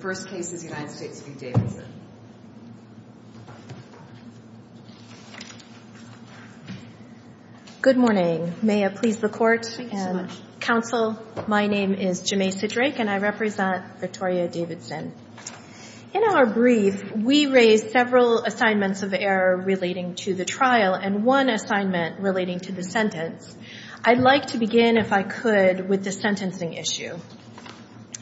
Good morning. May it please the court and counsel, my name is Jameisa Drake and I represent Victoria Davidson. In our brief, we raised several assignments of error relating to the trial and one assignment relating to the sentence. I'd like to begin, if I could, with the sentencing issue.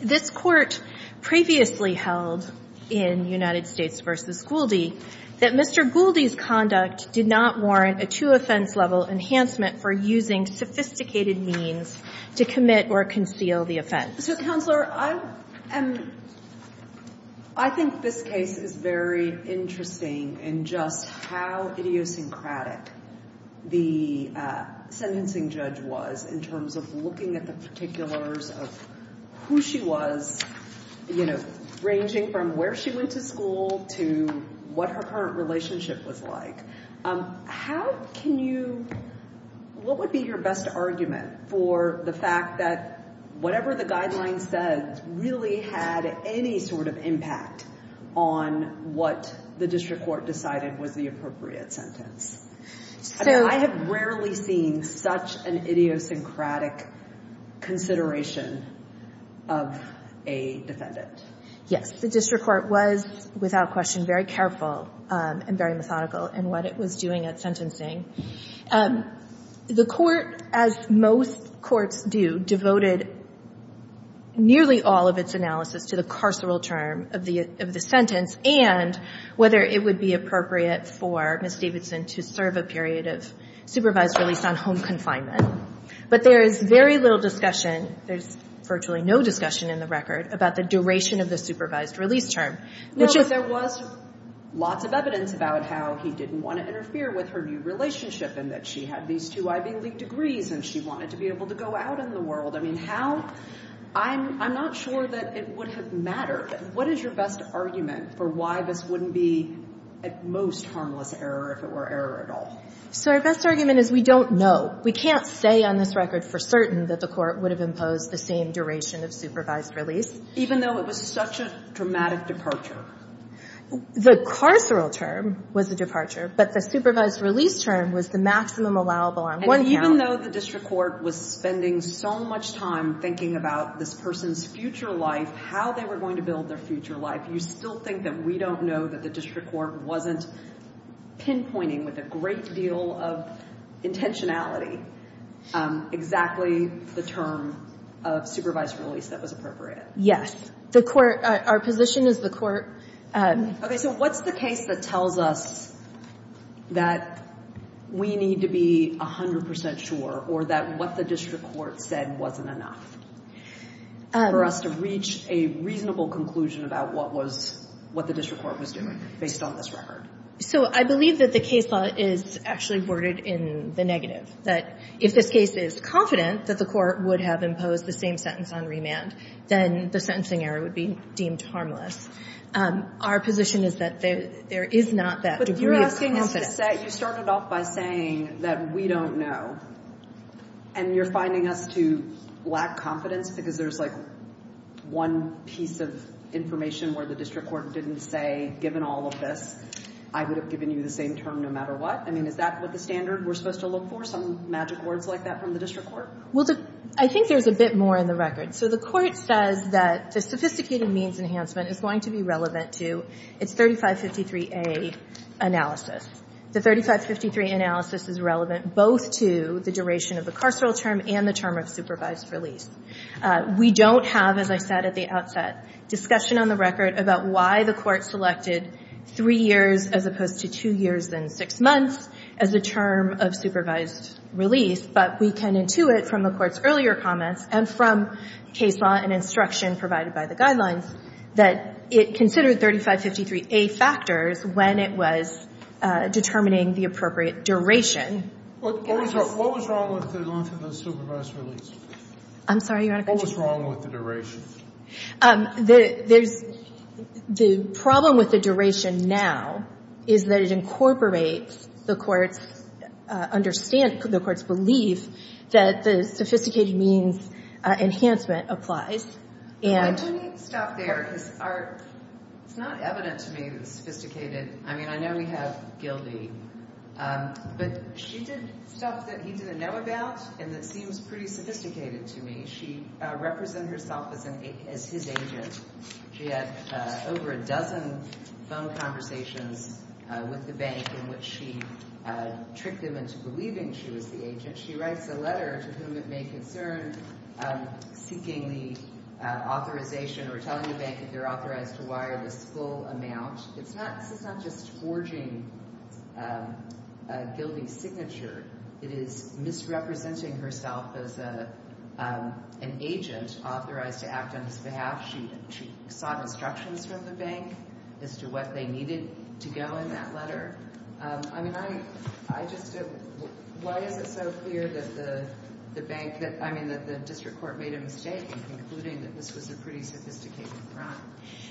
This court previously held, in United States v. Guldi, that Mr. Guldi's conduct did not warrant a two offense level enhancement for using sophisticated means to commit or conceal the offense. So, Counselor, I think this case is very interesting in just how idiosyncratic the sentencing judge was in terms of looking at the particulars of who she was, ranging from where she went to school to what her current relationship was like. How can you, what would be your best argument for the fact that whatever the guidelines said really had any sort of impact on what the district court decided was the appropriate sentence? I mean, I have rarely seen such an idiosyncratic consideration of a defendant. Yes. The district court was, without question, very careful and very methodical in what it was doing at sentencing. The court, as most courts do, devoted nearly all of its analysis to the carceral term of the sentence and whether it would be appropriate for Ms. Davidson to serve a period of supervised release on home confinement. But there is very little discussion, there's virtually no discussion in the record, about the duration of the supervised release term. No, but there was lots of evidence about how he didn't want to interfere with her new relationship and that she had these two Ivy League degrees and she wanted to be able to go out in the world. I mean, how, I'm not sure that it would have mattered. What is your best argument for why this wouldn't be, at most, harmless error if it were error at all? So our best argument is we don't know. We can't say on this record for certain that the court would have imposed the same duration of supervised release. Even though it was such a dramatic departure? The carceral term was a departure, but the supervised release term was the maximum allowable on one count. And even though the district court was spending so much time thinking about this person's future life, how they were going to build their future life, you still think that we don't know that the district court wasn't pinpointing with a great deal of intentionality exactly the term of supervised release that was appropriate? Yes. The court, our position is the court... Okay, so what's the case that tells us that we need to be 100% sure or that what the district court said wasn't enough for us to reach a reasonable conclusion about what was, what the district court was doing based on this record? So I believe that the case law is actually worded in the negative. That if this case is confident that the court would have imposed the same sentence on remand, then the sentencing error would be deemed harmless. Our position is that there is not that degree of confidence. But you're asking us to say, you started off by saying that we don't know. And you're finding us to lack confidence because there's like one piece of information where the district court didn't say, given all of this, I would have given you the same term no matter what? I mean, is that what the standard we're supposed to look for? Some magic words like that from the district court? Well, I think there's a bit more in the record. So the court says that the sophisticated means enhancement is going to be relevant to its 3553A analysis. The 3553 analysis is relevant both to the duration of the carceral term and the term of supervised release. We don't have, as I said at the outset, discussion on the record about why the court selected 3 years as opposed to 2 years and 6 months as a term of supervised release. But we can intuit from the Court's earlier comments and from case law and instruction provided by the guidelines that it considered 3553A factors when it was determining the appropriate duration. What was wrong with the length of the supervised release? I'm sorry, Your Honor. What was wrong with the duration? The problem with the duration now is that it incorporates the court's belief that the sophisticated means enhancement applies. Let me stop there. It's not evident to me that it's sophisticated. I mean, I know we have Gildee. But she did stuff that he didn't know about and that seems pretty sophisticated to me. She represented herself as his agent. She had over a dozen phone conversations with the bank in which she tricked him into believing she was the agent. She writes a letter to whom it may concern, seeking the authorization or telling the bank that they're authorized to wire this full amount. This is not just forging a Gildee signature. It is misrepresenting herself as an agent authorized to act on his behalf. She sought instructions from the bank as to what they needed to go in that letter. I mean, why is it so clear that the district court made a mistake in concluding that this was a pretty sophisticated crime?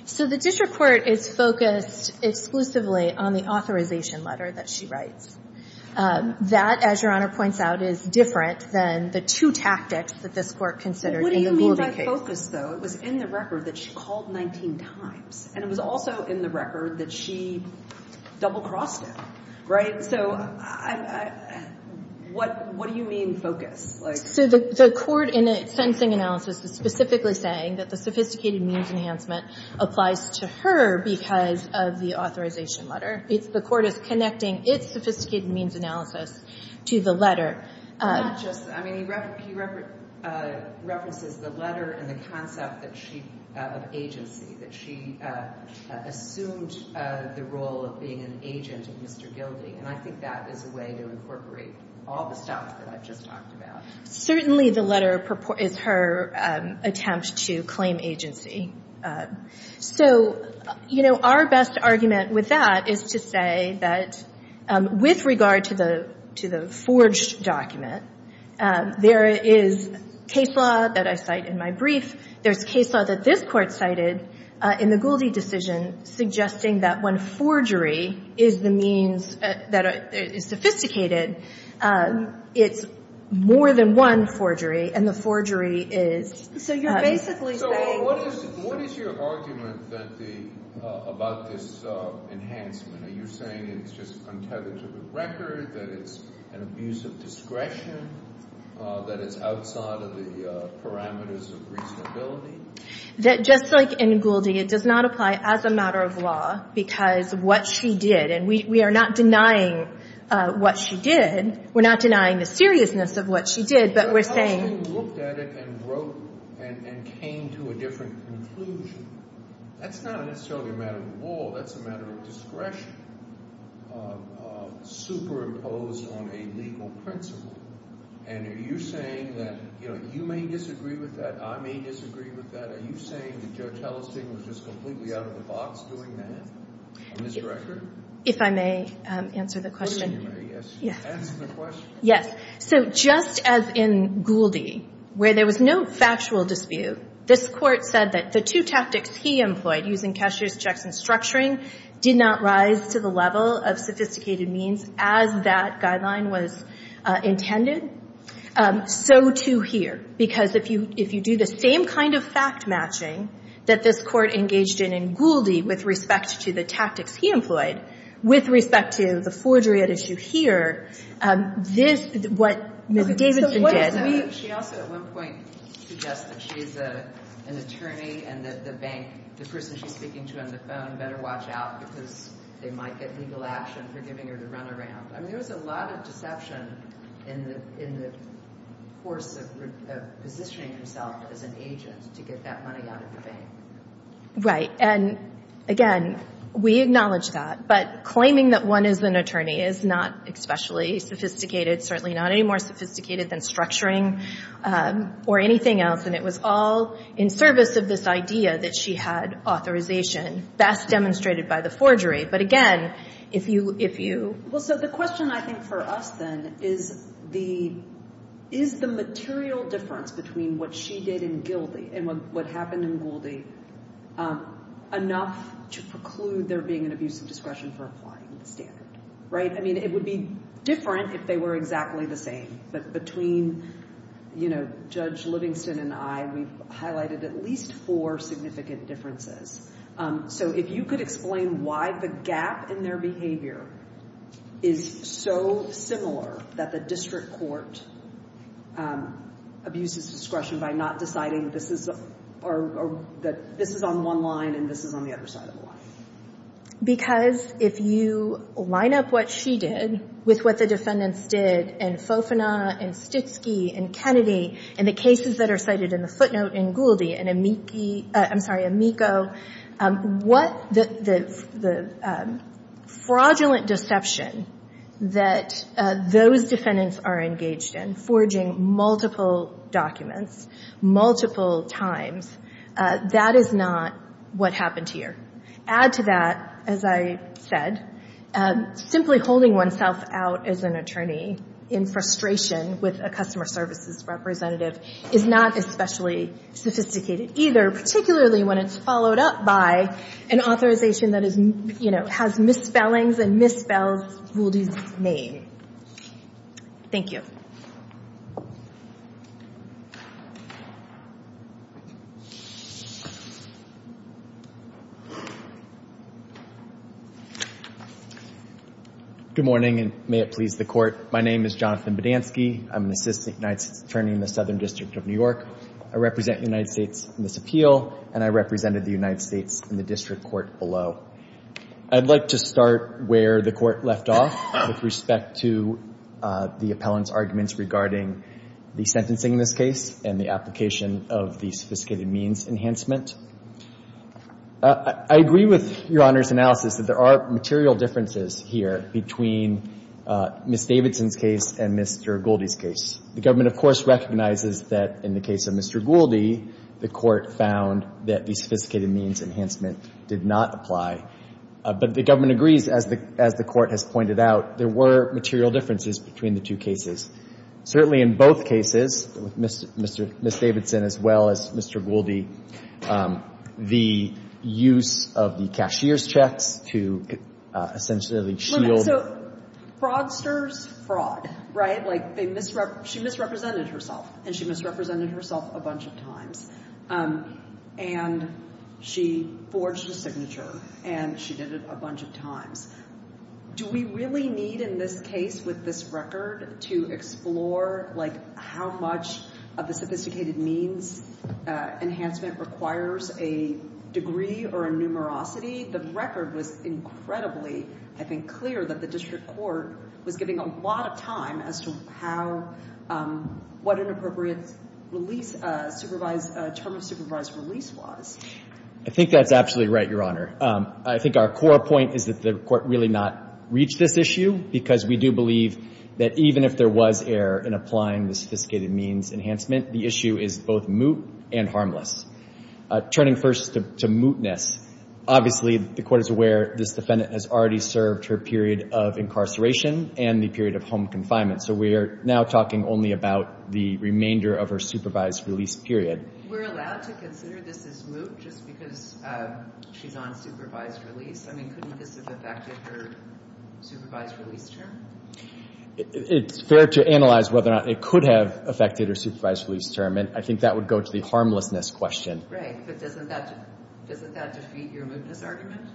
So the district court is focused exclusively on the authorization letter that she writes. That, as Your Honor points out, is different than the two tactics that this Court considered in the Gildee case. But what do you mean by focus, though? It was in the record that she called 19 times. And it was also in the record that she double-crossed him. Right? So what do you mean focus? So the Court in its sentencing analysis is specifically saying that the sophisticated means enhancement applies to her because of the authorization letter. The Court is connecting its sophisticated means analysis to the letter. I mean, he references the letter and the concept of agency, that she assumed the role of being an agent of Mr. Gildee. And I think that is a way to incorporate all the stuff that I've just talked about. Certainly the letter is her attempt to claim agency. So, you know, our best argument with that is to say that with regard to the forged document, there is case law that I cite in my brief. There's case law that this Court cited in the Gildee decision suggesting that when forgery is the means that is sophisticated, it's more than one forgery, and the forgery is — So you're basically saying — So what is your argument about this enhancement? Are you saying it's just untethered to the record, that it's an abuse of discretion, that it's outside of the parameters of reasonability? That just like in Gildee, it does not apply as a matter of law because of what she did. And we are not denying what she did. We're not denying the seriousness of what she did, but we're saying — She looked at it and wrote and came to a different conclusion. That's not necessarily a matter of law. That's a matter of discretion superimposed on a legal principle. And are you saying that — you know, you may disagree with that. I may disagree with that. Are you saying that Judge Hellesting was just completely out of the box doing that on this record? If I may answer the question. You may, yes. Answer the question. Yes. So just as in Gildee, where there was no factual dispute, this Court said that the two tactics he employed, using cashier's checks and structuring, did not rise to the level of sophisticated means as that guideline was intended, so, too, here. Because if you do the same kind of fact-matching that this Court engaged in in Gildee with respect to the tactics he employed, with respect to the forgery at issue here, this — what Ms. Davidson did — So what if we — She also, at one point, suggested she's an attorney and that the bank, the person she's speaking to on the phone, better watch out because they might get legal action for giving her the runaround. I mean, there was a lot of deception in the course of positioning herself as an agent to get that money out of the bank. Right. And, again, we acknowledge that. But claiming that one is an attorney is not especially sophisticated, certainly not any more sophisticated than structuring or anything else. And it was all in service of this idea that she had authorization, best demonstrated by the forgery. But, again, if you — Well, so the question, I think, for us, then, is the material difference between what she did in Gildee and what happened in Gildee enough to preclude there being an abuse of discretion for applying the standard. Right? I mean, it would be different if they were exactly the same. But between, you know, Judge Livingston and I, we've highlighted at least four significant differences. So if you could explain why the gap in their behavior is so similar that the district court abuses discretion by not deciding this is — or that this is on one line and this is on the other side of the line. Because if you line up what she did with what the defendants did in Fofana and Stitsky and Kennedy and the cases that are cited in the footnote in Gildee and Amici — I'm sorry, Amico, what the fraudulent deception that those defendants are engaged in, forging multiple documents multiple times, that is not what happened here. Add to that, as I said, simply holding oneself out as an attorney in frustration with a customer services representative is not especially sophisticated either, particularly when it's followed up by an authorization that is — you know, has misspellings and misspells Gildee's name. Thank you. Good morning, and may it please the Court. My name is Jonathan Badansky. I'm an assistant United States attorney in the Southern District of New York. I represent the United States in this appeal, and I represented the United States in the district court below. I'd like to start where the Court left off with respect to the appellant's arguments regarding the sentencing in this case and the application of the sophisticated means enhancement. I agree with Your Honor's analysis that there are material differences here between Ms. Davidson's case and Mr. Gildee's case. The Government, of course, recognizes that in the case of Mr. Gildee, the Court found that the sophisticated means enhancement did not apply. But the Government agrees, as the Court has pointed out, there were material differences between the two cases. Certainly in both cases, with Ms. Davidson as well as Mr. Gildee, the use of the cashier's checks to essentially shield — Look, so fraudsters, fraud, right? Like, they misrep — she misrepresented herself, and she misrepresented herself a bunch of times. And she forged a signature, and she did it a bunch of times. Do we really need, in this case, with this record, to explore, like, how much of the sophisticated means enhancement requires a degree or a numerosity? The record was incredibly, I think, clear that the district court was giving a lot of time as to how — what an appropriate release — term of supervised release was. I think that's absolutely right, Your Honor. I think our core point is that the Court really not reached this issue, because we do believe that even if there was error in applying the sophisticated means enhancement, the issue is both moot and harmless. Turning first to mootness, obviously, the Court is aware this defendant has already served her period of incarceration and the period of home confinement. So we are now talking only about the remainder of her supervised release period. We're allowed to consider this as moot just because she's on supervised release? I mean, couldn't this have affected her supervised release term? It's fair to analyze whether or not it could have affected her supervised release term, and I think that would go to the harmlessness question. Right. But doesn't that defeat your mootness argument?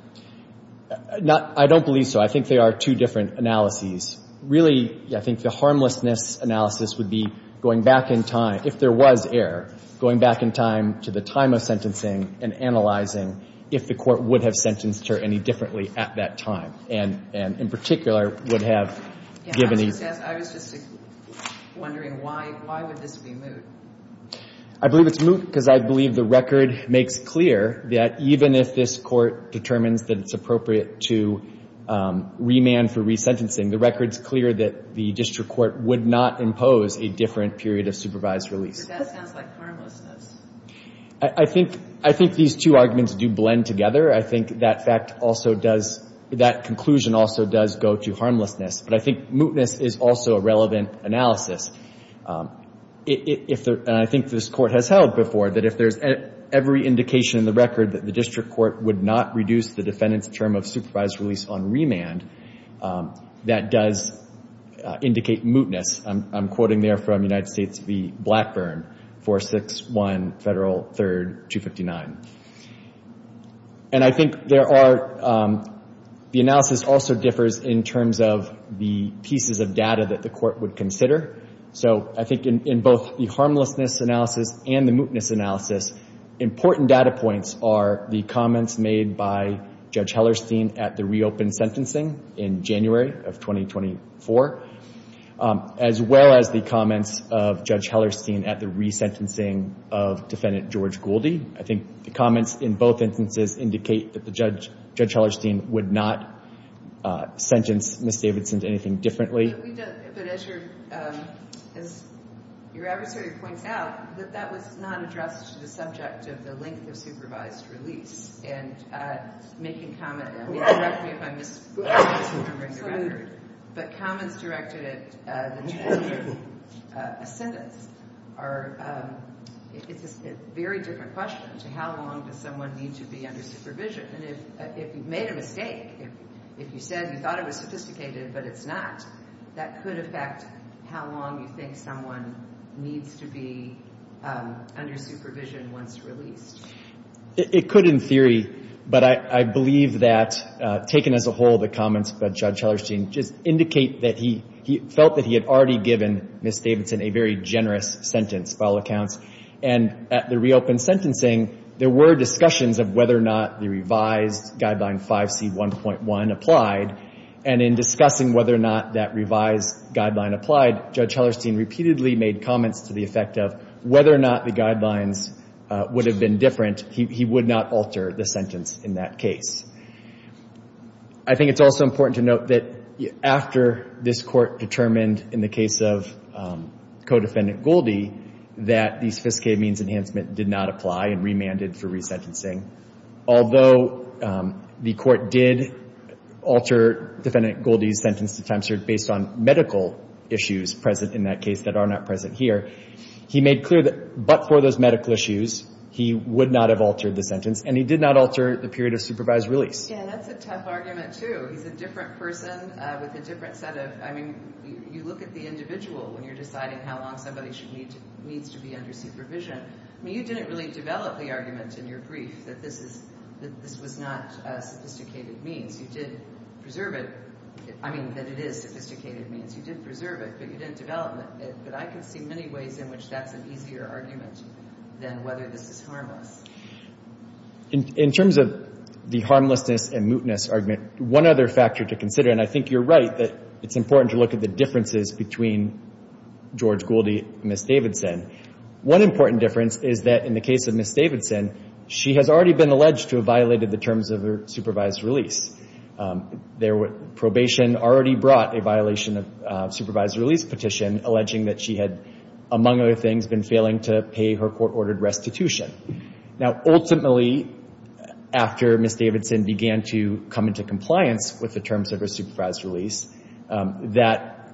I don't believe so. I think they are two different analyses. Really, I think the harmlessness analysis would be going back in time — if there was error, going back in time to the time of sentencing and analyzing if the Court would have sentenced her any differently at that time, and in particular would have given these — I was just wondering why would this be moot? I believe it's moot because I believe the record makes clear that even if this Court determines that it's appropriate to remand for resentencing, the record's clear that the district court would not impose a different period of supervised release. But that sounds like harmlessness. I think these two arguments do blend together. I think that fact also does — that conclusion also does go to harmlessness. But I think mootness is also a relevant analysis. And I think this Court has held before that if there's every indication in the record that the district court would not reduce the defendant's term of supervised release on remand, that does indicate mootness. I'm quoting there from United States v. Blackburn, 461 Federal 3rd 259. And I think there are — the analysis also differs in terms of the pieces of data that the Court would consider. So I think in both the harmlessness analysis and the mootness analysis, important data points are the comments made by Judge Hellerstein at the reopen sentencing in January of 2024, as well as the comments of Judge Hellerstein at the resentencing of Defendant George Gouldie. I think the comments in both instances indicate that Judge Hellerstein would not sentence Ms. Davidson to anything differently. But as your adversary points out, that was not addressed to the subject of the length of supervised release. And making comment — and correct me if I'm misremembering the record, but comments directed at the two-year assentence are — it's a very different question to how long does someone need to be under supervision. And if you've made a mistake, if you said you thought it was sophisticated but it's not, that could affect how long you think someone needs to be under supervision once released. It could in theory. But I believe that, taken as a whole, the comments by Judge Hellerstein just indicate that he felt that he had already given Ms. Davidson a very generous sentence by all accounts. And at the reopened sentencing, there were discussions of whether or not the revised Guideline 5C1.1 applied. And in discussing whether or not that revised guideline applied, Judge Hellerstein repeatedly made comments to the effect of whether or not the guidelines would have been different. He would not alter the sentence in that case. I think it's also important to note that after this Court determined in the case of Codefendant Gouldie that the sophisticated means enhancement did not apply and remanded for resentencing. Although the Court did alter Defendant Gouldie's sentence to time served based on medical issues present in that case that are not present here, he made clear that but for those medical issues, he would not have altered the sentence. And he did not alter the period of supervised release. Yeah, that's a tough argument, too. He's a different person with a different set of — I mean, you look at the individual when you're deciding how long somebody needs to be under supervision. I mean, you didn't really develop the argument in your brief that this was not a sophisticated means. You did preserve it — I mean, that it is sophisticated means. You did preserve it, but you didn't develop it. But I can see many ways in which that's an easier argument than whether this is harmless. In terms of the harmlessness and mootness argument, one other factor to consider, and I think you're right that it's important to look at the differences between George Gouldie and Ms. Davidson. One important difference is that in the case of Ms. Davidson, she has already been alleged to have violated the terms of her supervised release. Probation already brought a violation of supervised release petition, alleging that she had, among other things, been failing to pay her court-ordered restitution. Now, ultimately, after Ms. Davidson began to come into compliance with the terms of her supervised release, that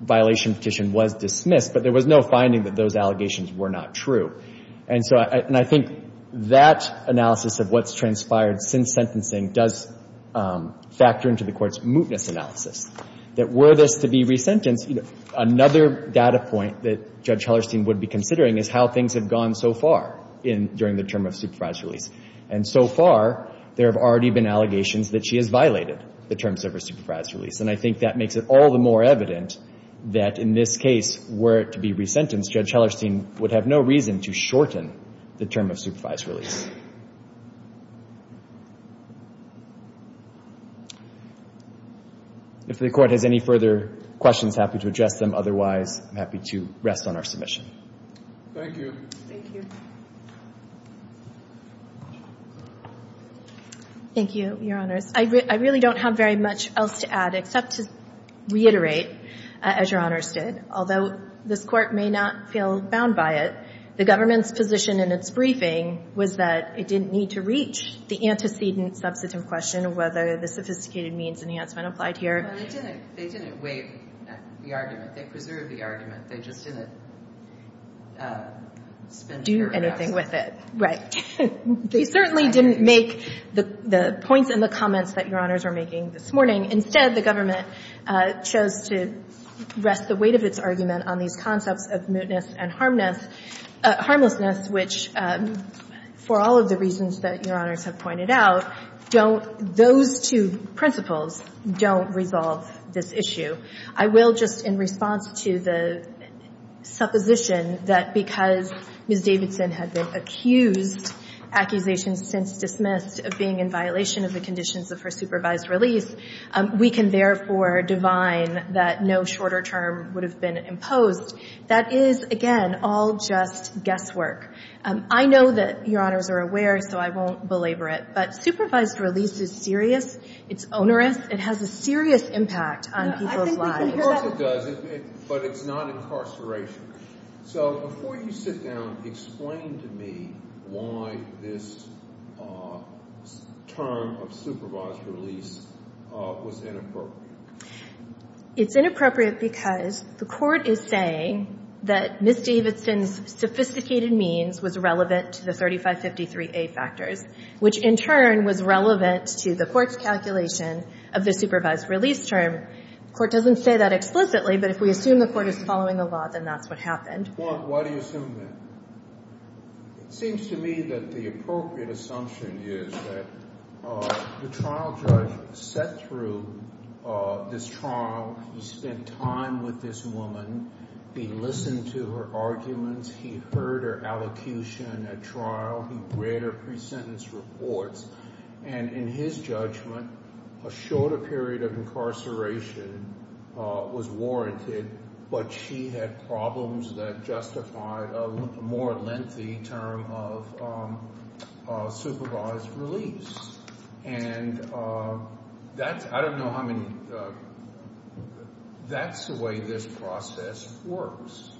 violation petition was dismissed, but there was no finding that those allegations were not true. And so — and I think that analysis of what's transpired since sentencing does factor into the Court's mootness analysis, that were this to be resentenced, you know, another data point that Judge Hellerstein would be considering is how things have gone so far during the term of supervised release. And so far, there have already been allegations that she has violated the terms of her supervised release. And I think that makes it all the more evident that in this case, were it to be resentenced, Judge Hellerstein would have no reason to shorten the term of supervised release. If the Court has any further questions, happy to address them. Otherwise, I'm happy to rest on our submission. Thank you. Thank you. Thank you, Your Honors. I really don't have very much else to add, except to reiterate, as Your Honors did, although this Court may not feel bound by it, the government's position in its briefing was that it didn't need to reach the antecedent-substantive question, whether the sophisticated means enhancement applied here. Well, they didn't — they didn't weigh the argument. They preserved the argument. They just didn't — Do anything with it. They certainly didn't make the points and the comments that Your Honors are making this morning. Instead, the government chose to rest the weight of its argument on these concepts of mootness and harmlessness, which, for all of the reasons that Your Honors have pointed out, don't — those two principles don't resolve this issue. I will just, in response to the supposition that because Ms. Davidson had been accused, accusations since dismissed, of being in violation of the conditions of her supervised release, we can therefore divine that no shorter term would have been imposed. That is, again, all just guesswork. I know that Your Honors are aware, so I won't belabor it, but supervised release is serious. It's onerous. It has a serious impact on people's lives. I think we can hear what it does, but it's not incarceration. So before you sit down, explain to me why this term of supervised release was inappropriate. It's inappropriate because the Court is saying that Ms. Davidson's sophisticated means was relevant to the 3553A factors, which in turn was relevant to the Court's calculation of the supervised release term. The Court doesn't say that explicitly, but if we assume the Court is following the law, then that's what happened. Well, why do you assume that? It seems to me that the appropriate assumption is that the trial judge sat through this trial. He spent time with this woman. He listened to her arguments. He heard her allocution at trial. He read her pre-sentence reports, and in his judgment, a shorter period of incarceration was warranted, but she had problems that justified a more lengthy term of supervised release. And that's—I don't know how many—that's the way this process works.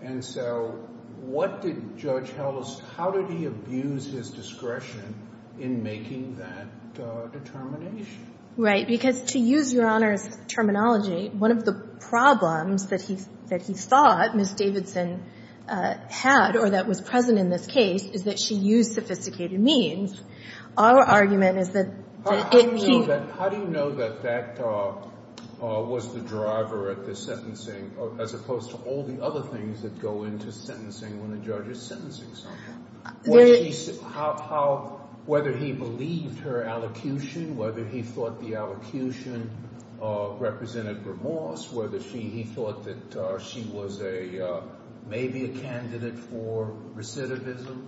And so what did Judge Hellis—how did he abuse his discretion in making that determination? Right, because to use Your Honor's terminology, one of the problems that he thought Ms. Davidson had or that was present in this case is that she used sophisticated means. Our argument is that if he— How do you know that that was the driver of the sentencing as opposed to all the other things that go into sentencing when a judge is sentencing someone? Whether he believed her allocution, whether he thought the allocution represented remorse, whether he thought that she was maybe a candidate for recidivism.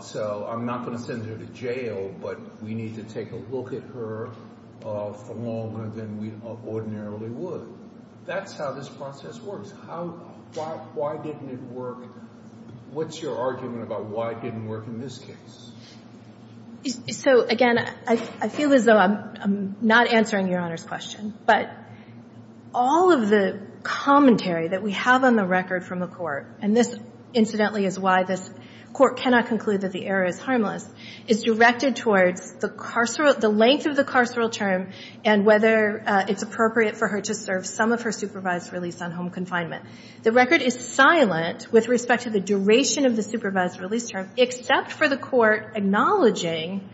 So I'm not going to send her to jail, but we need to take a look at her for longer than we ordinarily would. That's how this process works. How—why didn't it work? What's your argument about why it didn't work in this case? So, again, I feel as though I'm not answering Your Honor's question. But all of the commentary that we have on the record from the Court, and this, incidentally, is why this Court cannot conclude that the error is harmless, is directed towards the length of the carceral term and whether it's appropriate for her to serve some of her supervised release on home confinement. The record is silent with respect to the duration of the supervised release term, except for the Court acknowledging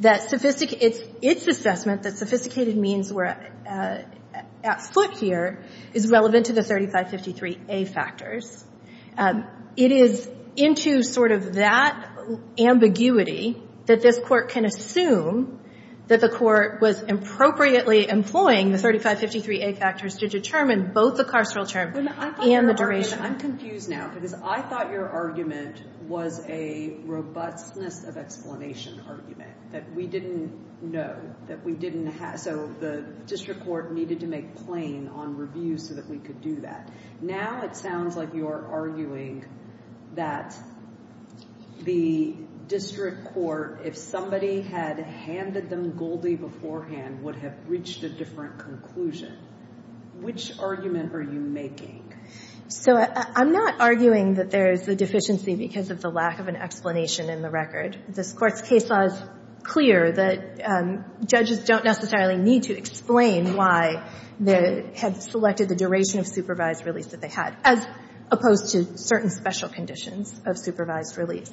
that its assessment that sophisticated means were at foot here is relevant to the 3553A factors. It is into sort of that ambiguity that this Court can assume that the Court was appropriately employing the 3553A factors to determine both the carceral term and the duration. I'm confused now because I thought your argument was a robustness of explanation argument that we didn't know, that we didn't have. So the district court needed to make plain on review so that we could do that. Now it sounds like you're arguing that the district court, if somebody had handed them Goldie beforehand, would have reached a different conclusion. Which argument are you making? So I'm not arguing that there's a deficiency because of the lack of an explanation in the record. This Court's case law is clear that judges don't necessarily need to explain why they had selected the duration of supervised release that they had, as opposed to certain special conditions of supervised release.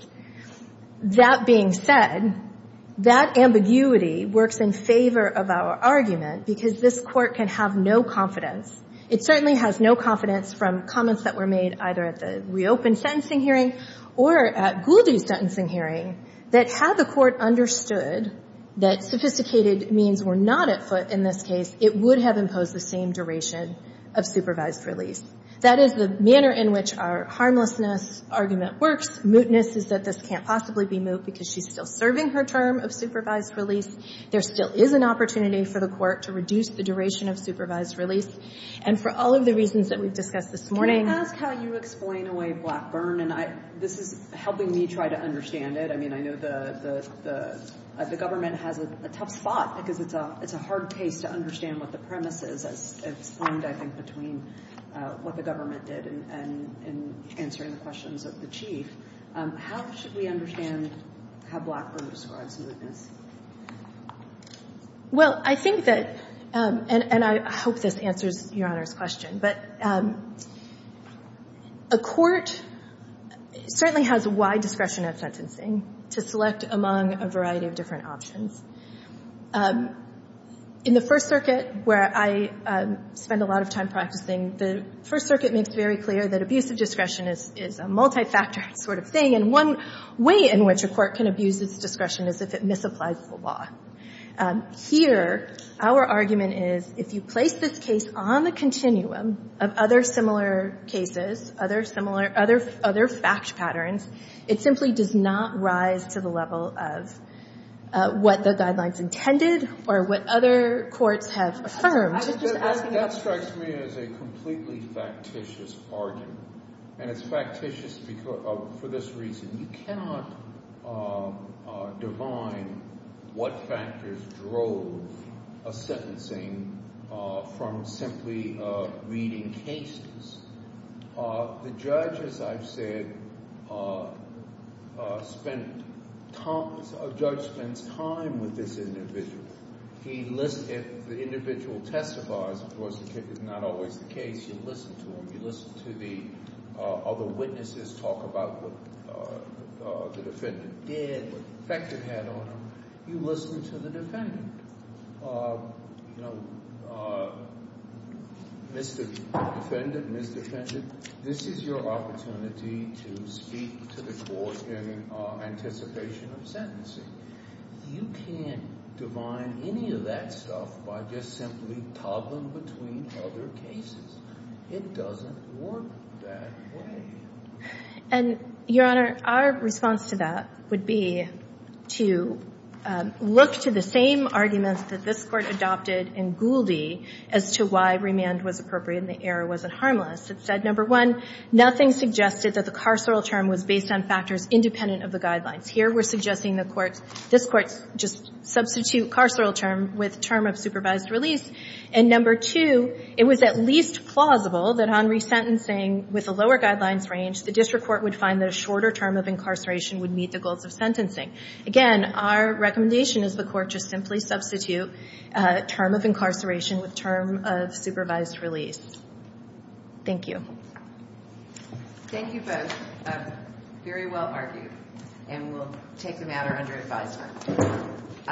That being said, that ambiguity works in favor of our argument because this Court can have no confidence. It certainly has no confidence from comments that were made either at the reopened sentencing hearing or at Goldie's sentencing hearing that had the Court understood that sophisticated means were not at foot in this case, it would have imposed the same duration of supervised release. That is the manner in which our harmlessness argument works. Mootness is that this can't possibly be moot because she's still serving her term of supervised release. There still is an opportunity for the Court to reduce the duration of supervised release. And for all of the reasons that we've discussed this morning — Can I ask how you explain away Blackburn? And this is helping me try to understand it. I mean, I know the government has a tough spot because it's a hard case to understand what the premise is. It's formed, I think, between what the government did and answering the questions of the Chief. How should we understand how Blackburn describes mootness? Well, I think that — and I hope this answers Your Honor's question. But a court certainly has wide discretion at sentencing to select among a variety of different options. In the First Circuit, where I spend a lot of time practicing, the First Circuit makes very clear that abusive discretion is a multi-factor sort of thing. And one way in which a court can abuse its discretion is if it misapplies the law. Here, our argument is if you place this case on the continuum of other similar cases, other similar — other fact patterns, it simply does not rise to the level of what the guidelines intended or what other courts have affirmed. I was just asking — That strikes me as a completely factitious argument. And it's factitious for this reason. You cannot divine what factors drove a sentencing from simply reading cases. The judge, as I've said, spent — a judge spends time with this individual. He — if the individual testifies, of course, the case is not always the case. You listen to him. You listen to the other witnesses talk about what the defendant did, what effect it had on him. You listen to the defendant. You know, Mr. Defendant, Ms. Defendant, this is your opportunity to speak to the court in anticipation of sentencing. You can't divine any of that stuff by just simply toggling between other cases. It doesn't work that way. And, Your Honor, our response to that would be to look to the same arguments that this Court adopted in Gouldie as to why remand was appropriate and the error wasn't harmless. It said, number one, nothing suggested that the carceral term was based on factors independent of the guidelines. Here we're suggesting the Court's — this Court's just substitute carceral term with term of supervised release. And, number two, it was at least plausible that on resentencing with a lower guidelines range, the district court would find that a shorter term of incarceration would meet the goals of sentencing. Again, our recommendation is the Court just simply substitute term of incarceration with term of supervised release. Thank you. Thank you both. Very well argued. And we'll take the matter under advisement.